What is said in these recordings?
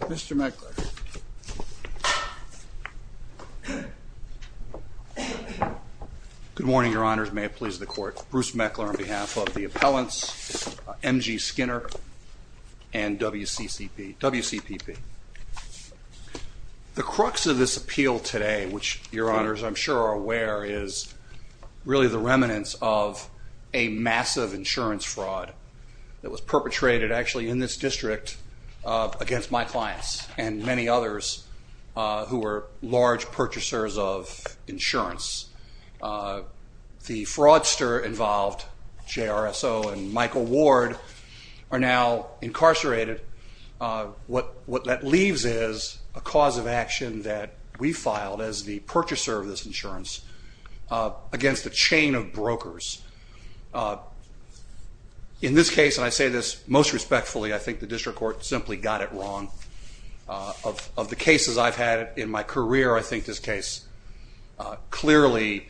Mr. Meckler. Good morning, Your Honors. May it please the Court. Bruce Meckler on behalf of the appellants, M.G. Skinner and W.C.C.P. W.C.P.P. The crux of this appeal today, which Your Honors, I'm sure are aware, is really the remnants of a massive insurance fraud that was perpetrated actually in this district against my clients and many others who were large purchasers of insurance. The fraudster involved, J.R.S.O. and Michael Ward, are now incarcerated. What that leaves is a cause of action that we filed as the purchaser of this insurance against a chain of brokers. In this case, and I say this most respectfully, I think the district court simply got it wrong. Of the cases I've had in my career, I think this case clearly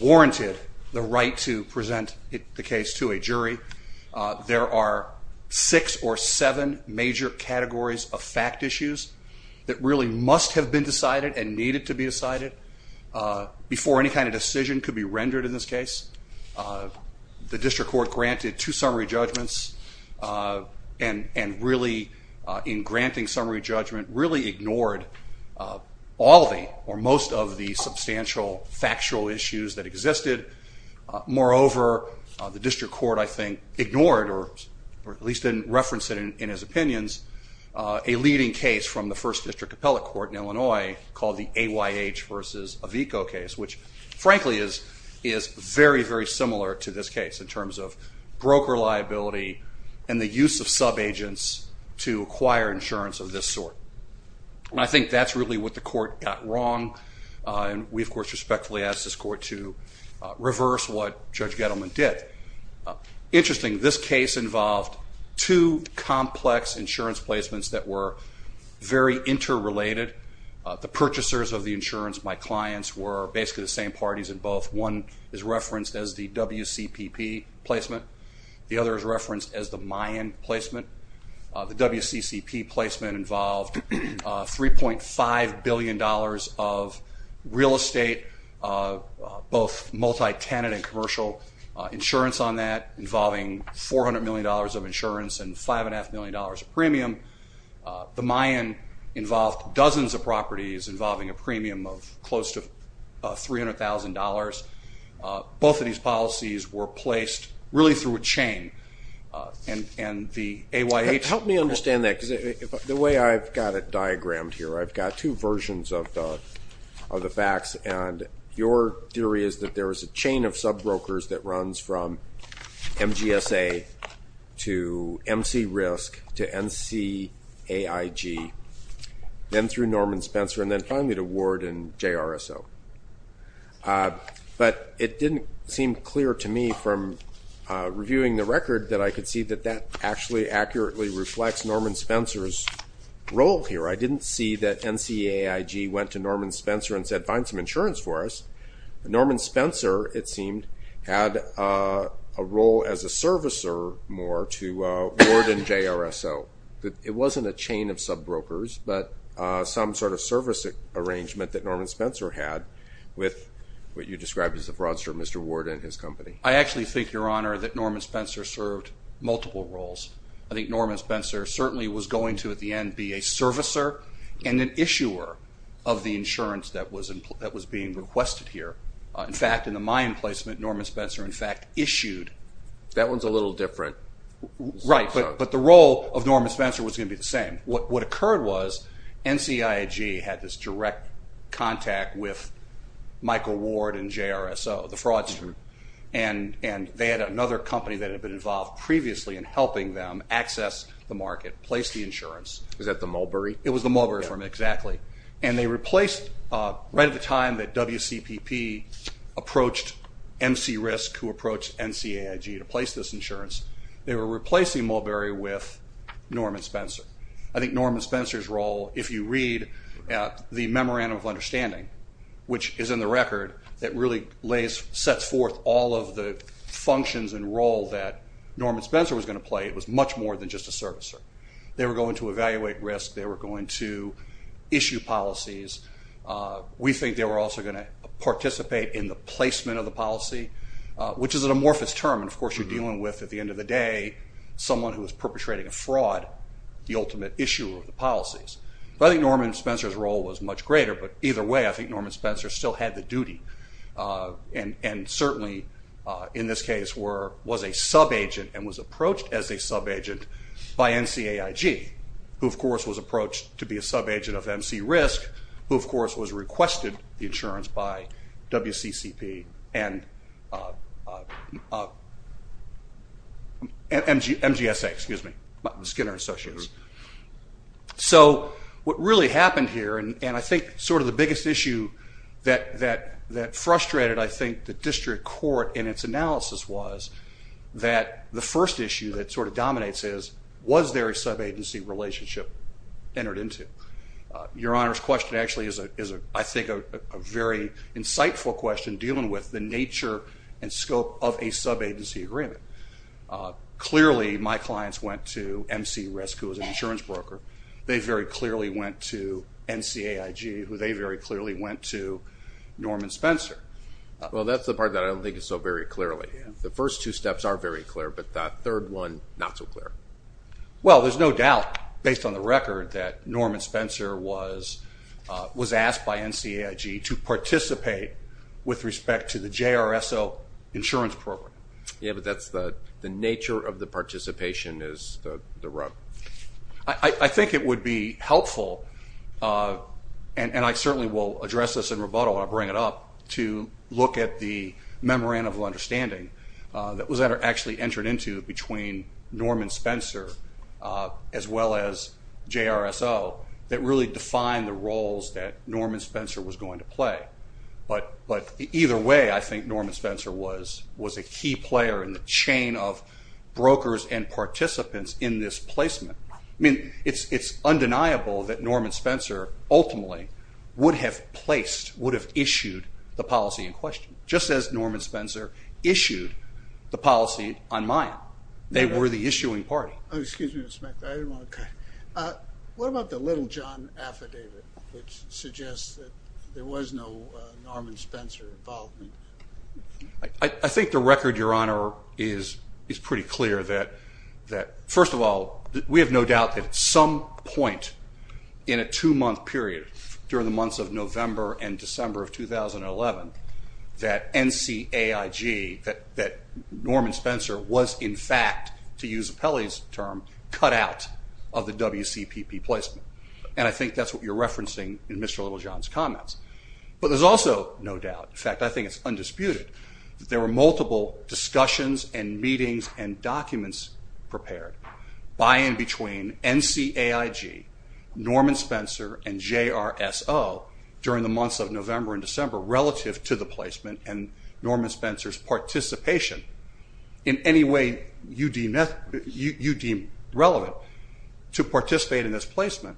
warranted the right to present the case to a jury. There are six or seven major categories of fact issues that really must have been decided and needed to be decided before any kind of decision could be rendered in this case. The district court granted two summary judgments and really, in granting summary judgment, really ignored all of the or most of the substantial factual issues that existed. Moreover, the district court, I think, ignored, or at least didn't reference it in his opinions, a leading case from the first district appellate court in Illinois called the AYH versus Avico case, which frankly is very, very similar to this case in terms of broker liability and the use of subagents to acquire insurance of this sort. I think that's really what the court got wrong. We, of course, respectfully ask this court to reverse what Judge Gettleman did. Interesting, this case involved two complex insurance placements that were very interrelated. The purchasers of the insurance, my clients, were basically the same parties in both. One is referenced as the WCPP placement. The other is referenced as the Mayan placement. The WCCP placement involved $3.5 billion of real estate, both multi-tenant and commercial insurance on that involving $400 million of insurance and $5.5 million of premium. The Mayan involved dozens of properties involving a premium of close to $300,000. Both of these policies were placed really through a chain and the AYH- Help me understand that because the way I've got it diagrammed here, I've got two versions of the facts and your theory is that there is a chain of subbrokers that runs from MGSA to MCRISC to NCAIG, then through Norman Spencer and then finally to Ward and JRSO. It didn't seem clear to me from reviewing the record that I could see that that actually accurately reflects Norman Spencer's role here. I didn't see that NCAIG went to Norman Spencer and said find some insurance for us. Norman Spencer, it seemed, had a role as a servicer more to Ward and JRSO. It wasn't a chain of subbrokers, but some sort of service arrangement that occurred at his company. I actually think, Your Honor, that Norman Spencer served multiple roles. I think Norman Spencer certainly was going to at the end be a servicer and an issuer of the insurance that was being requested here. In fact, in the Mayan placement, Norman Spencer in fact issued- That one's a little different. Right, but the role of Norman Spencer was going to be the same. What occurred was NCAIG had this direct contact with Michael Ward and JRSO, the frauds group, and they had another company that had been involved previously in helping them access the market, place the insurance. Was that the Mulberry? It was the Mulberry firm, exactly, and they replaced right at the time that WCPP approached MCRISC who approached NCAIG to place this insurance, they were replacing Mulberry with Norman Spencer. I think Norman Spencer's role, if you read the Memorandum of Understanding, which is in the record, that really sets forth all of the functions and role that Norman Spencer was going to play, it was much more than just a servicer. They were going to evaluate risk, they were going to issue policies. We think they were also going to participate in the placement of the policy, which is an amorphous term, and of course you're dealing with at the end of the day someone who is perpetrating a fraud, the ultimate issuer of the policies. But I think Norman Spencer's role was much greater, but either way I think Norman Spencer still had the duty and certainly in this case was a sub-agent and was approached as a sub-agent by NCAIG, who of course was approached to be a sub-agent of MCRISC, who of course was MGSA, excuse me, Skinner Associates. So what really happened here, and I think sort of the biggest issue that frustrated I think the district court in its analysis was that the first issue that sort of dominates is, was there a sub-agency relationship entered into? Your Honor's question actually is I think a very insightful question dealing with the nature and scope of a sub-agency agreement. Clearly my clients went to MCRISC, who was an insurance broker. They very clearly went to NCAIG, who they very clearly went to Norman Spencer. Well that's the part that I don't think is so very clearly. The first two steps are very clear, but that third one not so clear. Well there's no doubt based on the record that Norman Spencer was asked by NCAIG to participate with respect to the JRSO insurance program. Yeah, but that's the nature of the participation is the rub. I think it would be helpful, and I certainly will address this in rebuttal when I bring it up, to look at the memorandum of understanding that was actually entered into between Norman Spencer as well as JRSO that really defined the roles that Norman Spencer was going to play. But either way I think Norman Spencer was a key player in the chain of brokers and participants in this placement. I mean it's undeniable that Norman Spencer ultimately would have placed, would have issued the policy in question, just as Norman Spencer issued the policy on Mayan. They were the issuing party. What about the little John affidavit which suggests that there was no Norman Spencer involvement? I think the record, your honor, is pretty clear that, first of all, we have no doubt that at some point in a two-month period during the months of November and December of 2011 that NCAIG, that Norman Spencer was in fact, to use Pelley's term, cut out of the WCPP placement. And I think that's what you're referencing in Mr. Little John's comments. But there's also no doubt, in fact I think it's undisputed, that there were multiple discussions and meetings and documents prepared by and between NCAIG, Norman Spencer and JRSO during the months of November and December relative to the placement and Norman Spencer's participation in any way you deem relevant to participate in this placement.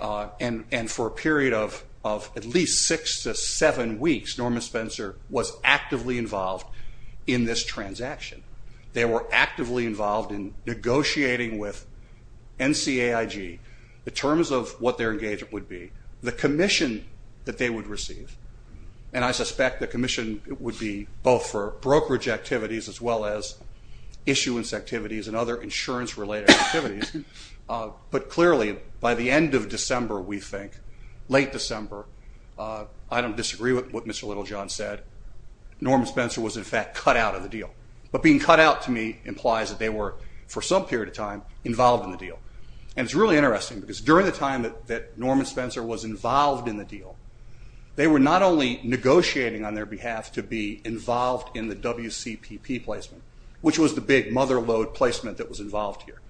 And for a period of at least six to seven weeks, Norman Spencer was actively involved in this transaction. They were actively involved in negotiating with NCAIG the terms of what their engagement would be, the commission that they would receive, and I suspect the commission would be both for brokerage activities as well as issuance activities and other insurance related activities. But clearly by the end of December, we think, late December, I don't disagree with what Mr. Little John said, Norman Spencer was in fact cut out of the deal. But being cut out to me implies that they were, for some period of time, involved in the deal. And it's really clear that when Norman Spencer was involved in the deal, they were not only negotiating on their behalf to be involved in the WCPP placement, which was the big mother load placement that was involved here,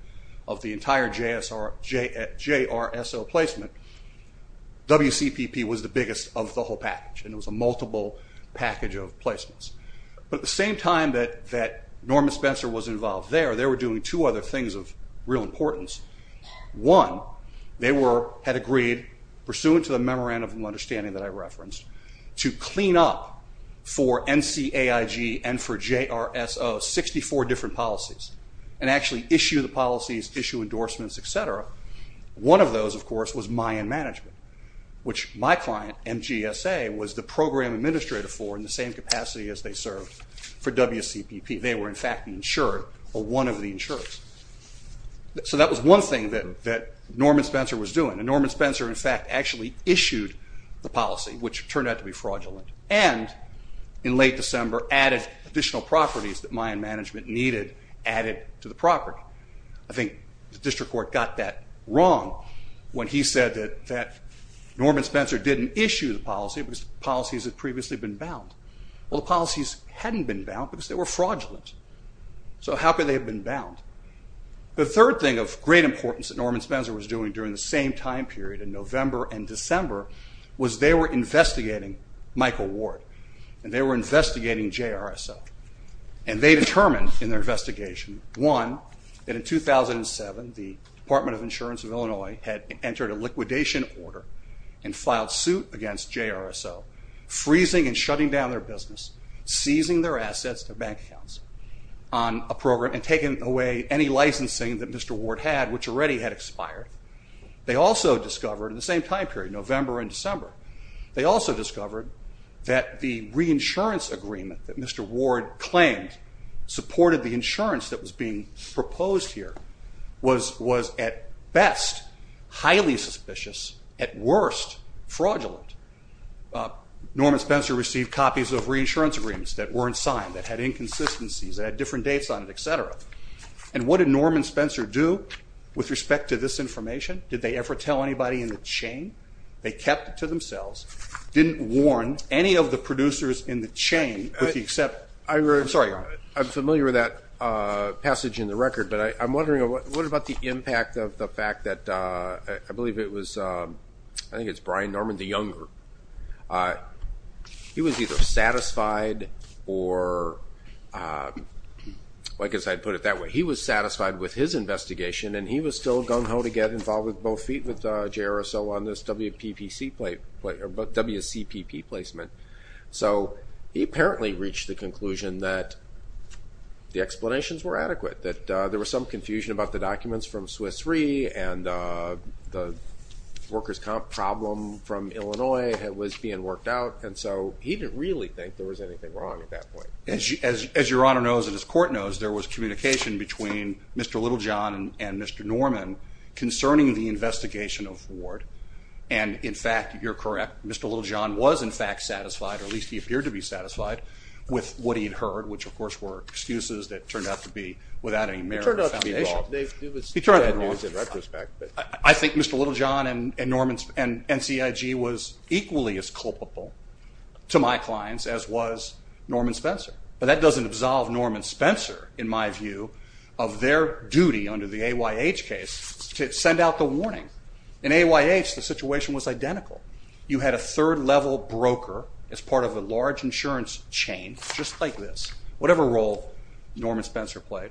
of the entire JRSO placement, WCPP was the biggest of the whole package and it was a multiple package of placements. But at the same time that Norman Spencer was pursuing, pursuant to the memorandum of understanding that I referenced, to clean up for NCAIG and for JRSO, 64 different policies, and actually issue the policies, issue endorsements, etc., one of those of course was my end management, which my client, MGSA, was the program administrator for in the same capacity as they served for WCPP. They were in fact insured, or one of the insurers. So that was one thing that Norman Spencer was doing, and Norman Spencer in fact actually issued the policy, which turned out to be fraudulent, and in late December added additional properties that my end management needed, added to the property. I think the district court got that wrong when he said that Norman Spencer didn't issue the policy, because policies had previously been bound. Well the policies hadn't been bound because they were fraudulent. So how could they have been bound? The third thing of great importance that Norman Spencer was doing during the same time period in November and December was they were investigating Michael Ward, and they were investigating JRSO, and they determined in their investigation, one, that in 2007 the Department of Insurance of Illinois had entered a liquidation order and filed suit against JRSO, freezing and shutting down their business, seizing their assets, their bank accounts, on a program, and taking away any licensing that Mr. Ward had, which already had expired. They also discovered in the same time period, November and December, they also discovered that the reinsurance agreement that Mr. Ward claimed supported the insurance that was being proposed here was at best highly suspicious, at worst fraudulent. Norman Spencer received copies of reinsurance agreements that weren't signed, that had inconsistencies, that had different dates on it, et cetera. And what did Norman Spencer do with respect to this information? Did they ever tell anybody in the chain? They kept it to themselves, didn't warn any of the producers in the chain with the exception. I'm sorry, I'm familiar with that passage in the record, but I'm wondering what about the impact of the fact that, I believe it was, I think it's Brian Norman the Younger. He was either satisfied or, I guess I'd put it that way, he was satisfied with his investigation and he was still gung-ho to get involved with both feet with JRSO on this WPPC, WCPP placement. So he apparently reached the conclusion that the explanations were adequate, that there was some confusion about the documents from Swiss Re and the workers' comp problem from Illinois that was being worked out, and so he didn't really think there was anything wrong at that point. As your Honor knows and as court knows, there was communication between Mr. Littlejohn and Mr. Norman concerning the investigation of Ward, and in fact, you're correct, Mr. Littlejohn was in fact satisfied, or at least he appeared to be satisfied, with what he'd heard, which of course were excuses that turned out to be without any merit or foundation. He turned out to be involved. It was bad news in retrospect. I think Mr. Littlejohn and NCIG was equally as culpable to my clients as was Norman Spencer, but that doesn't absolve Norman Spencer, in my view, of their duty under the AYH case to send out the warning. In AYH, the situation was identical. You had a third-level broker as part of a large insurance chain, just like this, whatever role Norman Spencer played,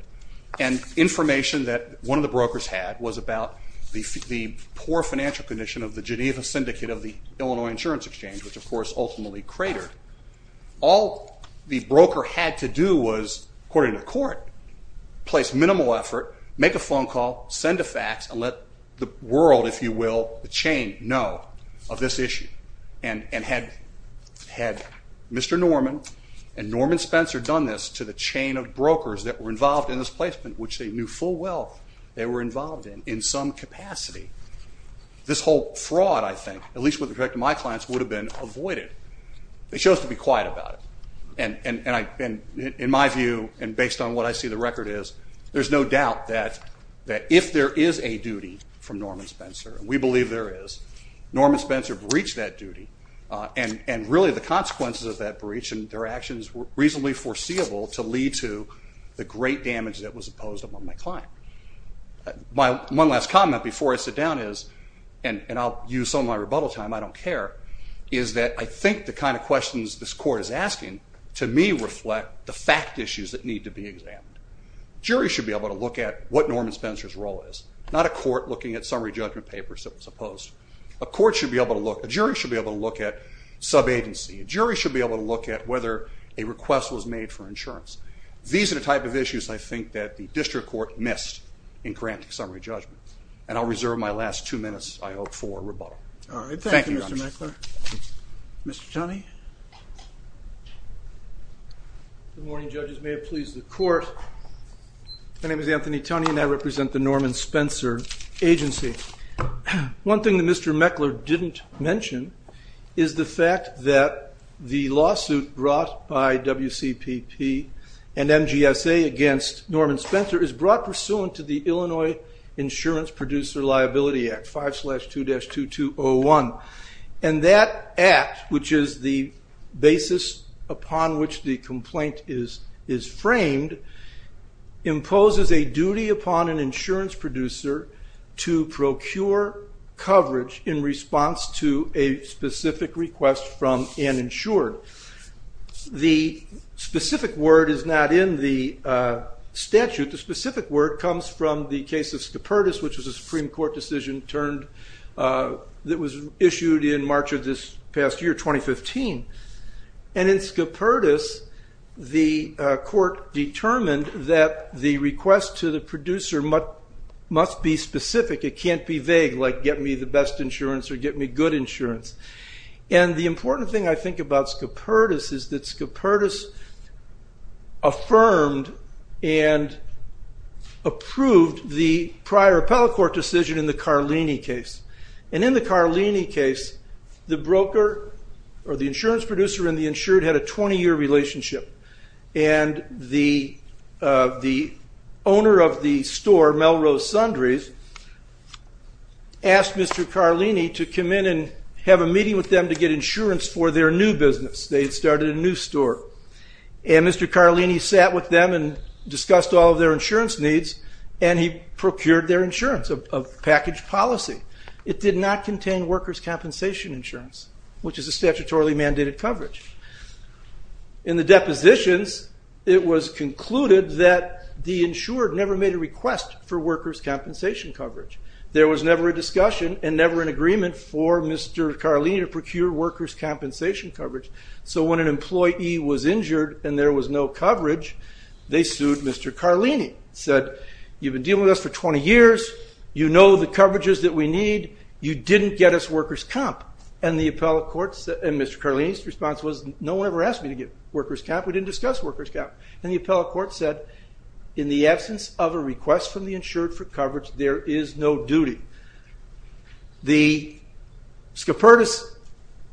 and information that one of the brokers had was about the poor financial condition of the Geneva Syndicate of the Illinois Insurance Exchange, which of course ultimately cratered. All the broker had to do was, according to court, place minimal effort, make a phone call, send a fax, and let the world, if you will, the chain, know of this issue, and had Mr. Norman and Norman Spencer done this to the chain of brokers that were involved in this placement, which they knew full well they were involved in, in some capacity, this whole fraud, I think, at least with respect to my clients, would have been avoided. They chose to be quiet about it, and in my view, and based on what I see the record is, there's no doubt that if there is a duty from Norman Spencer, and we believe there is, Norman Spencer breached that duty, and really the consequences of that breach and their actions were reasonably foreseeable to lead to the great damage that was imposed upon my client. One last comment before I sit down is, and I'll use some of my rebuttal time, I don't care, is that I think the kind of questions this court is asking, to me, reflect the fact issues that need to be examined. Juries should be able to look at what Norman Spencer's role is, not a court looking at summary judgment papers that was opposed. A court should be able to look, a jury should be able to look at sub-agency. A jury should be able to look at whether a request was made for insurance. These are the type of issues, I think, that the district court missed in granting summary judgment. And I'll reserve my last two minutes, I hope, for rebuttal. Thank you, Your Honor. All right. Thank you, Mr. Meckler. Mr. Toney. Good morning, judges. May it please the court. My name is Anthony Toney, and I represent the Norman Spencer agency. One thing that Mr. Meckler didn't mention is the fact that the lawsuit brought by WCPP and MGSA against Norman Spencer is brought pursuant to the Illinois Insurance Producer Liability Act, 5-2-2201. And that act, which is the basis upon which the complaint is framed, imposes a duty upon an insurance producer to procure coverage in response to a specific request from an insured. The specific word is not in the statute. The specific word comes from the case of Scopertus, which was a Supreme Court decision that was issued in March of this past year, 2015. And in Scopertus, the insurance producer had a 20-year relationship. And the owner of the store, Melrose Sundries, asked Mr. Carlini to come in and have a meeting with them to get insurance for their new business. They had started a new store. And Mr. Carlini sat with them and discussed all of their insurance needs, and he procured their insurance, a package policy. It did not contain workers' compensation insurance, which is a statutorily mandated coverage. In the depositions, it was concluded that the insured never made a request for workers' compensation coverage. There was never a discussion and never an agreement for Mr. Carlini to procure workers' compensation coverage. So when an employee was injured and there was no coverage, they sued Mr. Carlini, said, you've been dealing with us for 20 years, you know the coverages that we need, you didn't get us workers' comp. And Mr. Carlini's response was, no one ever asked me to get workers' comp, we didn't discuss workers' comp. And the appellate court said, in the absence of a request from the insured for coverage, there is no duty. The SCOPERTIS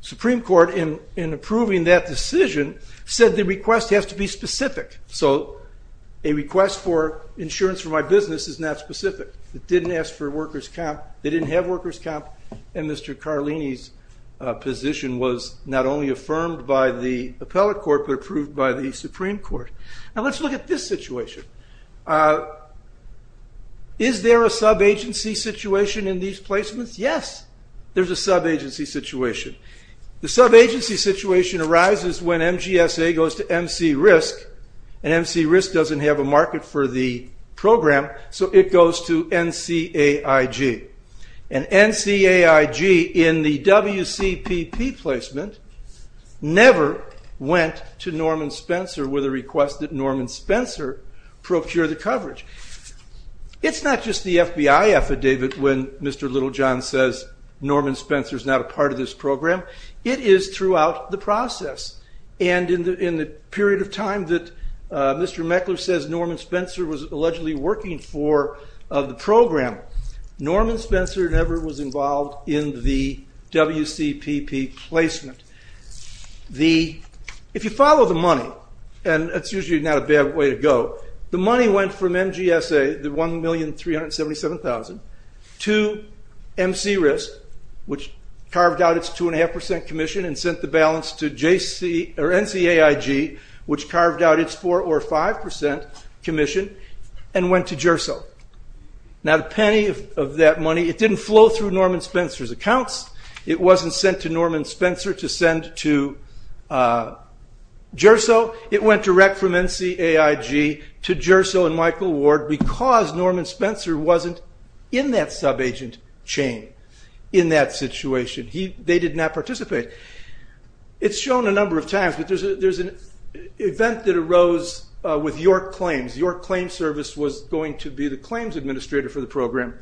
Supreme Court in approving that decision said the request has to be specific. So a request for insurance for my business is not specific. It didn't ask for workers' comp, they didn't have workers' comp, and Mr. Carlini's position was not only affirmed by the appellate court, but approved by the Supreme Court. Now let's look at this situation. Is there a sub-agency situation in these placements? Yes, there's a sub-agency situation. The sub-agency situation arises when MGSA goes to MC RISC, and MC RISC doesn't have a market for the program, so it goes to NCAIG. And NCAIG, in the WCPP placement, never went to Norman Spencer with a request that Norman Spencer procure the coverage. It's not just the FBI affidavit when Mr. Littlejohn says, Norman Spencer's not a part of this program, it is throughout the process. And in the period of time that Mr. Meckler says Norman Spencer was allegedly working for the program, Norman Spencer never was involved in the WCPP placement. If you follow the money, and it's usually not a bad way to go, the money went from MGSA, the $1,377,000, to MC RISC, which carved out its 2.5% commission and sent the balance to NCAIG, which carved out its 4 or 5% commission, and went to GERSO. Now the penny of that money, it didn't flow through Norman Spencer's accounts. It wasn't sent to Norman Spencer to send to GERSO. It went direct from NCAIG to GERSO and Michael Ward because Norman Spencer wasn't in that sub-agent chain in that situation. They did not participate. It's shown a number of times, there's an event that arose with York Claims. York Claims Service was going to be the claims administrator for the program.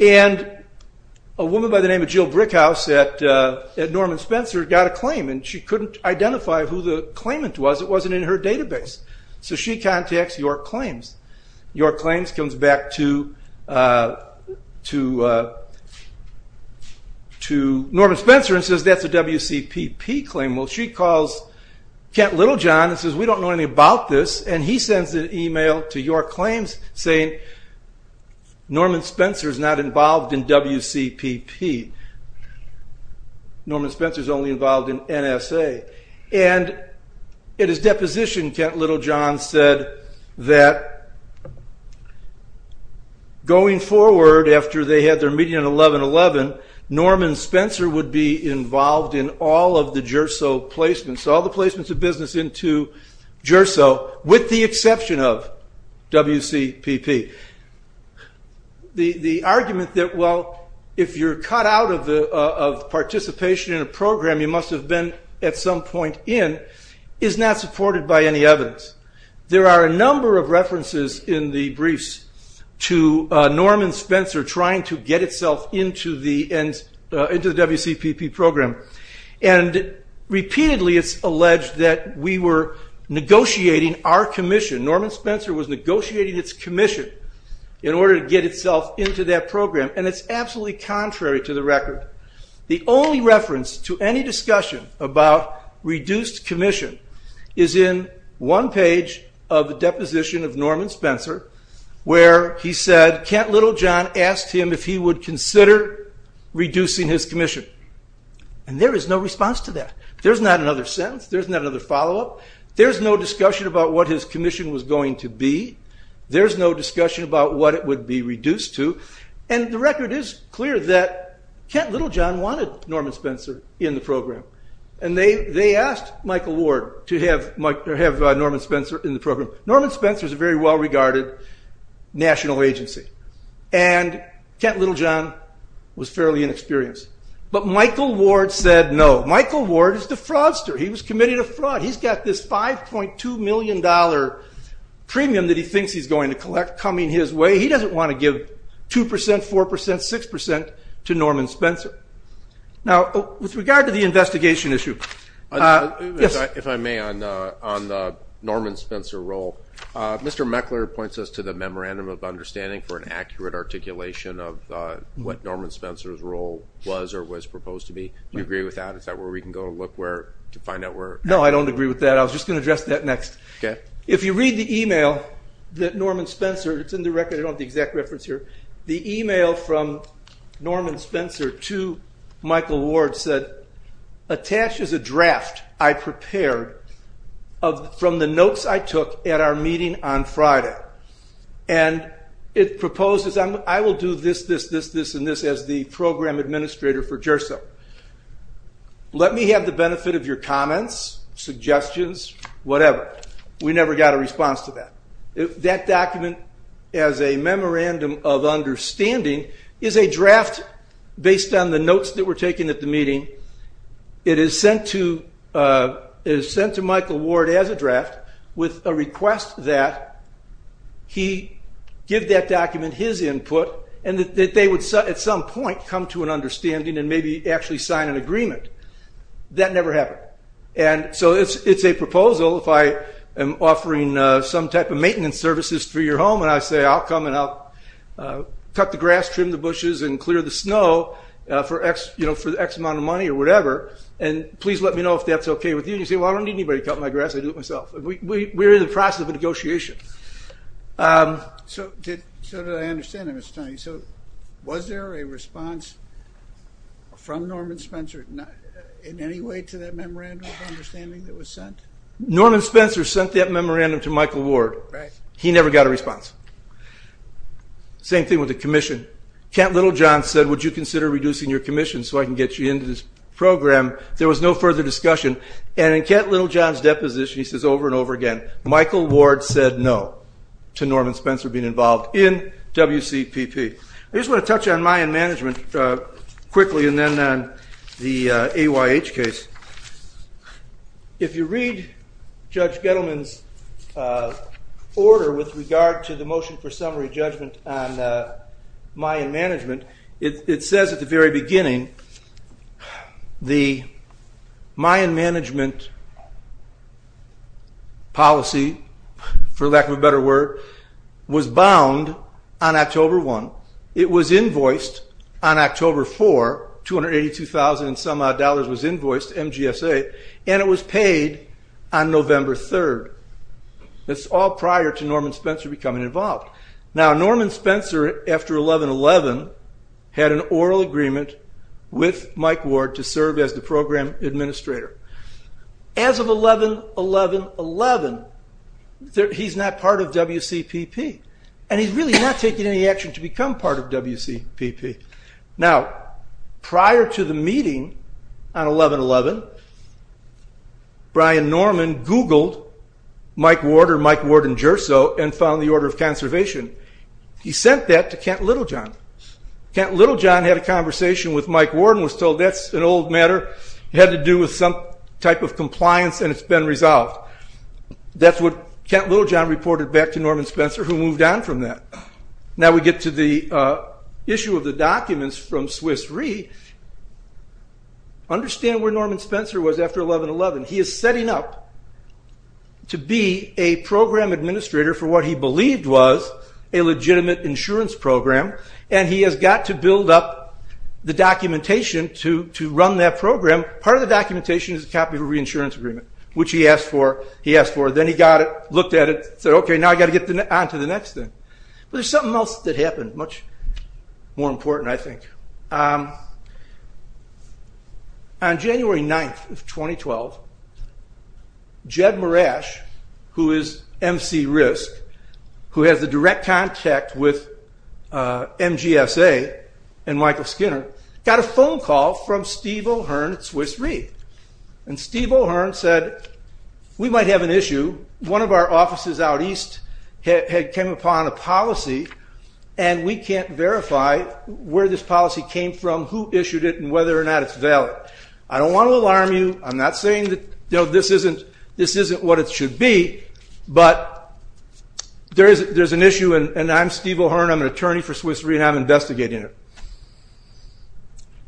And a woman by the name of Jill Brickhouse at Norman Spencer got a claim and she couldn't identify who the claimant was, it wasn't in her database. So she contacts York Claims. York Claims comes back to Norman Spencer and says that's a WCPP claim. Well she calls Kent Littlejohn and says we don't know anything about this, and he sends an email to York Claims saying Norman Spencer's not involved in WCPP. Norman Spencer's only involved in NSA. And in his deposition, Kent Littlejohn said that going forward after they had their meeting in 11-11, Norman Spencer would be involved in all of the GERSO placements, all the placements of business into GERSO with the exception of WCPP. The argument that well if you're cut out of participation in a program you must have been at some point in is not supported by any evidence. There are a number of references in the briefs to Norman Spencer trying to get itself into the WCPP program. And repeatedly it's alleged that we were negotiating our commission, Norman Spencer was negotiating its commission in order to get itself into that program. And it's absolutely contrary to the record. The only reference to any discussion about reduced commission is in one page of the deposition of Norman Spencer where he said Kent Littlejohn asked him if he would consider reducing his commission. And there is no response to that. There's not another sentence, there's not another follow-up, there's no discussion about what his commission was going to be, there's no discussion about what it would be reduced to, and the record is clear that Kent Littlejohn asked Michael Ward to have Norman Spencer in the program. Norman Spencer is a very well-regarded national agency. And Kent Littlejohn was fairly inexperienced. But Michael Ward said no. Michael Ward is the fraudster. He was committing a fraud. He's got this 5.2 million dollar premium that he thinks he's going to collect coming his way. He doesn't want to give 2%, 4%, 6% to Norman Spencer. Now, with regard to the investigation issue, if I may, on the Norman Spencer role, Mr. Meckler points us to the memorandum of understanding for an accurate articulation of what Norman Spencer's role was or was proposed to be. Do you agree with that? Is that where we can go and look where to find out where? No, I don't agree with that. I was just going to address that next. If you read the email that Norman Spencer, it's in the record, I don't have the exact reference here, the email from Michael Ward said, attaches a draft I prepared from the notes I took at our meeting on Friday. And it proposes, I will do this, this, this, this, and this as the program administrator for JERSO. Let me have the benefit of your comments, suggestions, whatever. We never got a response to that. That document as a memorandum of understanding is a draft based on the notes that were taken at the meeting. It is sent to Michael Ward as a draft with a request that he give that document his input and that they would at some point come to an understanding and maybe actually sign an agreement. That never happened. And so it's a proposal if I am offering some type of maintenance services for your home and I say, I'll come and I'll cut the grass, trim the bushes, and clear the snow for X amount of money or whatever. And please let me know if that's okay with you. And you say, well, I don't need anybody to cut my grass, I do it myself. We're in the process of a Norman Spencer, in any way to that memorandum of understanding that was sent? Norman Spencer sent that memorandum to Michael Ward. He never got a response. Same thing with the commission. Kent Littlejohn said, would you consider reducing your commission so I can get you into this program? There was no further discussion. And in Kent Littlejohn's deposition, he says over and over again, Michael Ward said no to Norman Spencer being involved in WCPP. I just want to touch on management quickly and then the AYH case. If you read Judge Gettleman's order with regard to the motion for summary judgment on Mayan management, it says at the very beginning, the Mayan management policy, for lack of a better word, was bound on October 1. It was invoiced on October 4, $282,000 and some odd dollars was invoiced, MGSA, and it was paid on November 3rd. It's all prior to Norman Spencer becoming involved. Now Norman Spencer, after 11-11, had an oral agreement with the program administrator. As of 11-11-11, he's not part of WCPP and he's really not taking any action to become part of WCPP. Now prior to the meeting on 11-11, Brian Norman googled Mike Ward or Mike Ward and Gersow and found the order of conservation. He sent that to Kent Littlejohn. Kent Littlejohn had a conversation with Mike Ward and was told that's an old matter. It had to do with some type of compliance and it's been resolved. That's what Kent Littlejohn reported back to Norman Spencer who moved on from that. Now we get to the issue of the documents from Swiss Re. Understand where Norman Spencer was after 11-11. He is setting up to be a program administrator for what he believed was a legitimate insurance program and he has got to build up the documentation to run that program. Part of the documentation is a copy of a reinsurance agreement, which he asked for. He asked for it, then he got it, looked at it, said okay now I got to get on to the next thing. There's something else that happened, much more important I think. On January 9th of 2012, Jed Marash, who is MC RISC, who has the direct contact with MGSA and Michael Skinner, got a phone call from Steve O'Hearn at Swiss Re. Steve O'Hearn said we might have an issue. One of our offices out east had come upon a policy and we can't verify where this policy came from, who issued it and whether or not it's valid. I don't want to alarm you, I'm not saying this isn't what it should be, but there's an issue and I'm Steve O'Hearn, I'm an attorney for Swiss Re and I'm investigating it.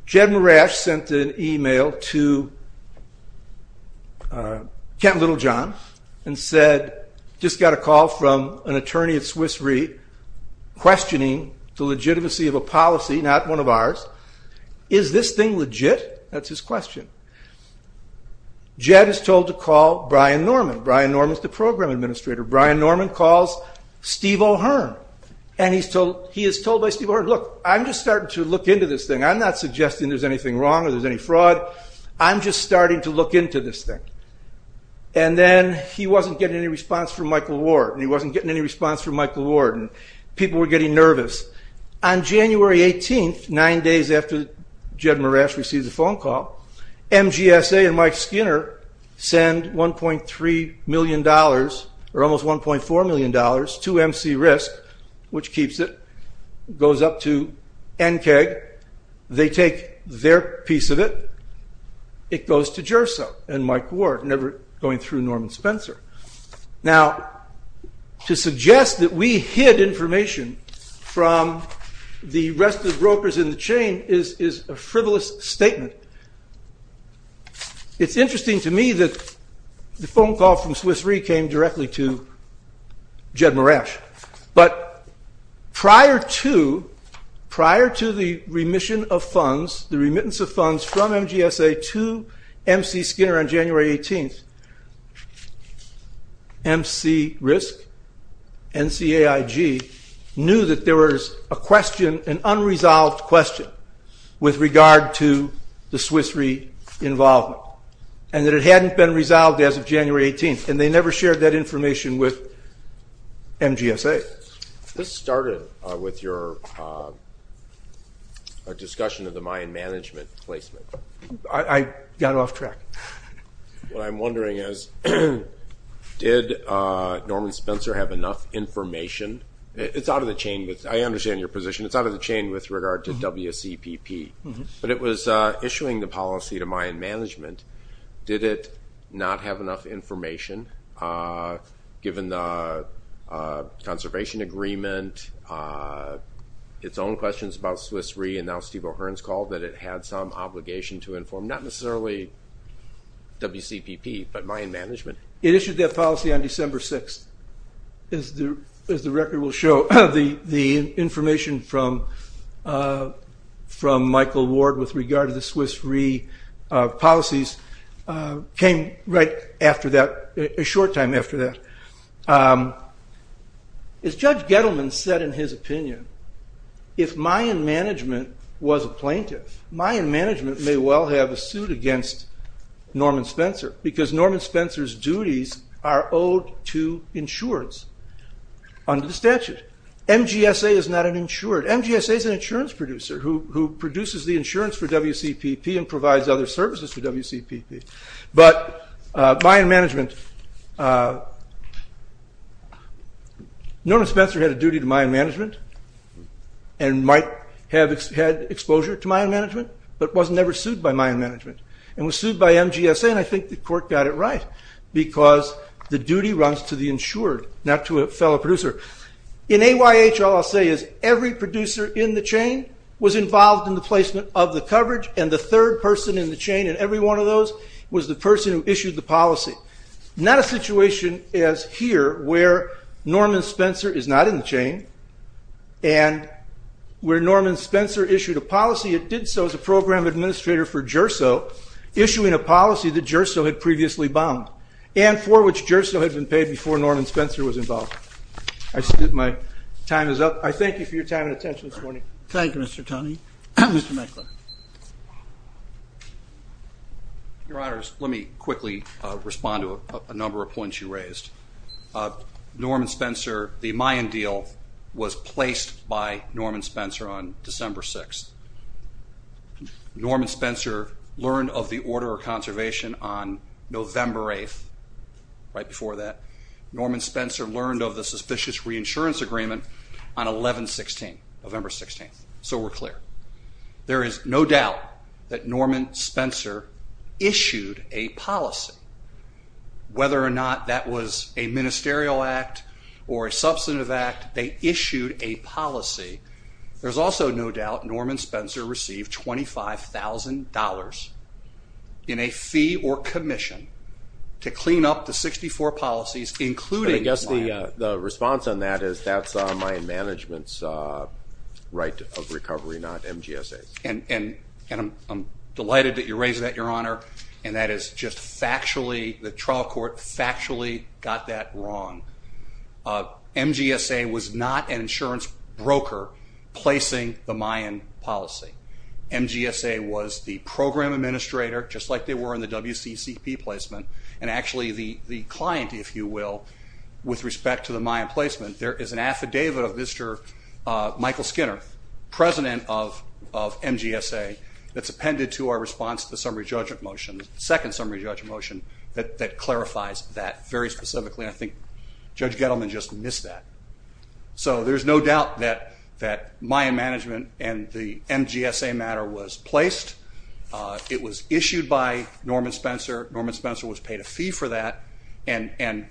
Jed Marash sent an email to Kent Littlejohn and said, just got a call from an attorney at Swiss Re questioning the legitimacy of a policy, not one of ours, is this thing legit? That's his question. Jed is told to call Brian Norman. Brian Norman is the program administrator. Brian Norman calls Steve O'Hearn and he's told, he is told by Steve O'Hearn, look I'm just starting to look into this thing, I'm not suggesting there's anything wrong or there's any fraud, I'm just starting to look into this thing. And then he wasn't getting any response from Michael Ward and he wasn't getting any response from Michael Ward and people were getting nervous. On January 18th, nine days after Jed Marash received the phone call, MGSA and Mike Skinner send 1.3 million dollars or almost 1.4 million dollars to MC Risk, which keeps it, goes up to NCAG, they take their piece of it, it goes to MGSA. To suggest that we hid information from the rest of the brokers in the chain is a frivolous statement. It's interesting to me that the phone call from Swiss Re came directly to Jed Marash, but prior to, prior to the remission of funds, the remittance of funds from MGSA to MC Skinner on January 18th, MC Risk, NCAIG knew that there was a question, an unresolved question with regard to the Swiss Re involvement and that it hadn't been resolved as of January 18th and they never shared that information with MGSA. This started with your discussion of the Mayan management placement. I got off track. What I'm wondering is, did Norman Spencer have enough information? It's out of the chain, I understand your position, it's out of the chain with regard to WCPP, but it was issuing the policy to Mayan management, did it not have enough information given the conservation agreement, its own questions about Swiss Re and now Steve O'Hearn's call that it had some obligation to inform, not necessarily WCPP, but Mayan management? It issued that policy on December 6th. As the record will show, the information from Michael Ward with regard to Swiss Re policies came right after that, a short time after that. As Judge Gettleman said in his opinion, if Mayan management was a plaintiff, Mayan management may well have a suit against Norman Spencer because Norman Spencer's duties are owed to insureds under the statute. MGSA is not an insured, MGSA is an insurance for WCPP and provides other services for WCPP, but Mayan management, Norman Spencer had a duty to Mayan management and might have had exposure to Mayan management, but was never sued by Mayan management and was sued by MGSA and I think the court got it right because the duty runs to the insured, not to a fellow producer. In AYH, all I'll say is every producer in the chain was involved in the placement of the coverage and the third person in the chain in every one of those was the person who issued the policy. Not a situation as here where Norman Spencer is not in the chain and where Norman Spencer issued a policy, it did so as a program administrator for GERSO, issuing a policy that GERSO had previously bound and for which GERSO had been paid before Norman Spencer was involved. I think my time is up. I thank you for your time and attention this morning. Thank you, Mr. Tunney. Mr. Meckler. Your Honors, let me quickly respond to a number of points you raised. Norman Spencer, the Mayan deal was placed by Norman Spencer on December 6th. Norman Spencer learned of the order of conservation on November 8th, right before that. Norman Spencer learned of the suspicious reinsurance agreement on 11-16, November 16th. So we're clear. There is no doubt that Norman Spencer issued a policy. Whether or not that was a ministerial act or a substantive act, they issued a policy. There's also no doubt Norman Spencer received $25,000 in a fee or commission to clean up the 64 policies including the Mayan. I guess the response on that is that's a Mayan management's right of recovery, not MGSA's. And I'm delighted that you raised that, Your Honor. And that is just factually, the trial court factually got that wrong. MGSA was not an insurance broker placing the Mayan policy. MGSA was the program administrator, just like they were in the WCCP placement, and actually the client, if you will, with respect to the Mayan placement. There is an affidavit of Mr. Michael Skinner, president of MGSA that's appended to our response to the summary judgment motion, the second summary judgment motion, that clarifies that very specifically. I think Judge Gettleman just missed that. So there's no doubt that that Mayan management and the MGSA matter was placed. It was issued by Norman Spencer. Norman Spencer was paid a fee for that and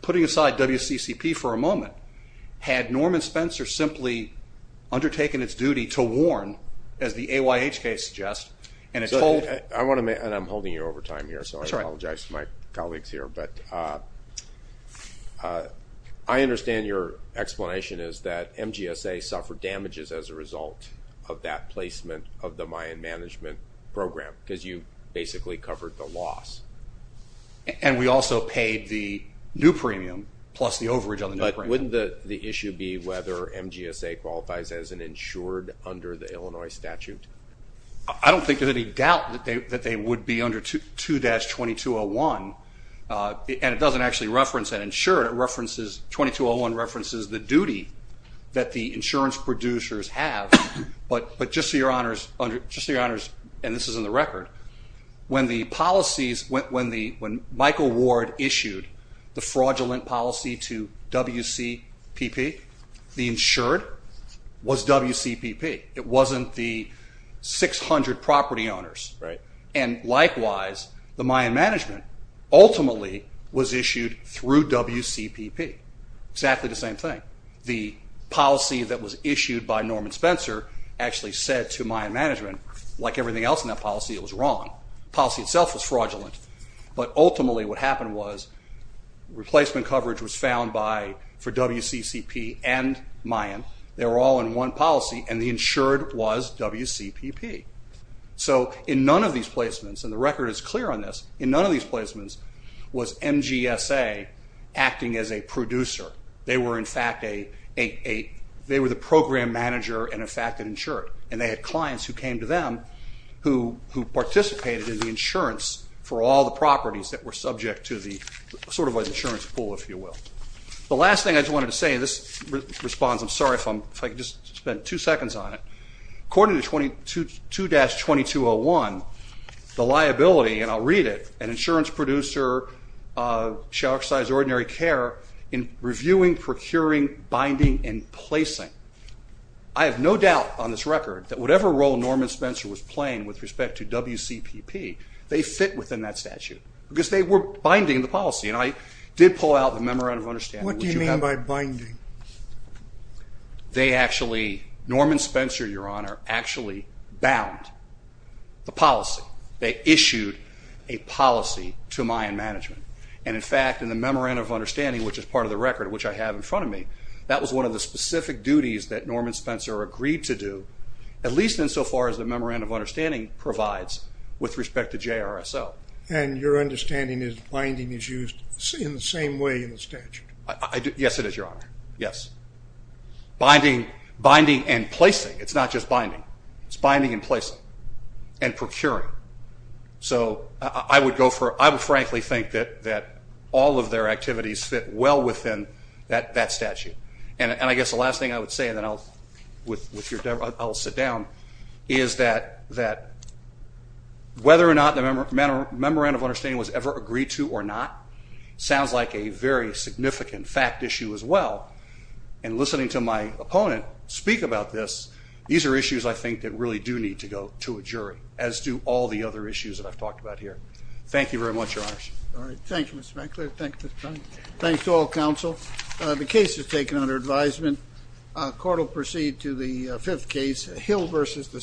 putting aside WCCP for a moment, had Norman Spencer simply undertaken its duty to warn, as the AYH case suggests, and it's told... I want to make, and I'm holding you over time here, so I apologize to my colleagues here, but I understand your explanation is that MGSA suffered damages as a result of that placement of the Mayan management program, because you basically covered the loss. And we also paid the new premium plus the overage on the new premium. Wouldn't the issue be whether MGSA qualifies as an insured under the Illinois statute? I don't think there's any doubt that they would be under 2-2201, and it doesn't actually reference an insured. It references, 2201 references the duty that the insurance producers have, but just so your honors, and this is in the record, when the policies, when Michael Ward issued the fraudulent policy to WCPP, the insured was WCPP. It wasn't the 600 property owners, right? And likewise, the Mayan management ultimately was issued through WCPP. Exactly the same thing. The policy that was issued by Norman Spencer actually said to Mayan management, like everything else in that policy, it was wrong. The policy itself was fraudulent, but ultimately what happened was replacement coverage was found by, for WCCP and Mayan. They were all in one policy, and the insured was WCPP. So in none of these placements, and the record is clear on this, in none of these placements was MGSA acting as a producer. They were in fact a, they were the program manager and in fact an insured, and they had clients who came to them who participated in the insurance for all the properties that were subject to the sort of an insurance pool, if you will. The last thing I just wanted to say, and this responds, I'm sorry if I'm, if I could just spend two seconds on it. According to 22-2201, the liability, and I'll read it, an insurance producer shall exercise ordinary care in reviewing, procuring, binding, and placing. I have no doubt on this record that whatever role Norman Spencer was playing with respect to WCPP, they fit within that statute because they were binding the policy, and I did pull out the Memorandum of Understanding. What do you mean by binding? They actually, Norman Spencer, Your Honor, actually bound the policy. They issued a policy to Mayan management, and in fact in the Memorandum of Understanding, which is part of the record, which I have in front of me, that was one of the specific duties that Norman Spencer agreed to do, at least insofar as the Memorandum of Understanding provides with respect to JRSO. And your understanding is binding is used in the same way in the statute? Yes, it is, Your Honor. Yes. Binding, binding and placing. It's not just binding. It's binding and placing and procuring. So I would go for, I would frankly think that all of their activities fit well within that statute. And I guess the last thing I would say, and then I'll, with your, I'll sit down, is that, that whether or not the Memorandum of Understanding was ever agreed to or not sounds like a very significant fact issue as well. And listening to my opponent speak about this, these are issues I think that really do need to go to a jury, as do all the other issues that I've talked about here. Thank you very much, Your Honor. All right. Thank you, Mr. McClure. Thank you, Mr. Connolly. Thanks to all counsel. The case is taken under advisement. Court will proceed to the fifth case, Hill v. DeSantis.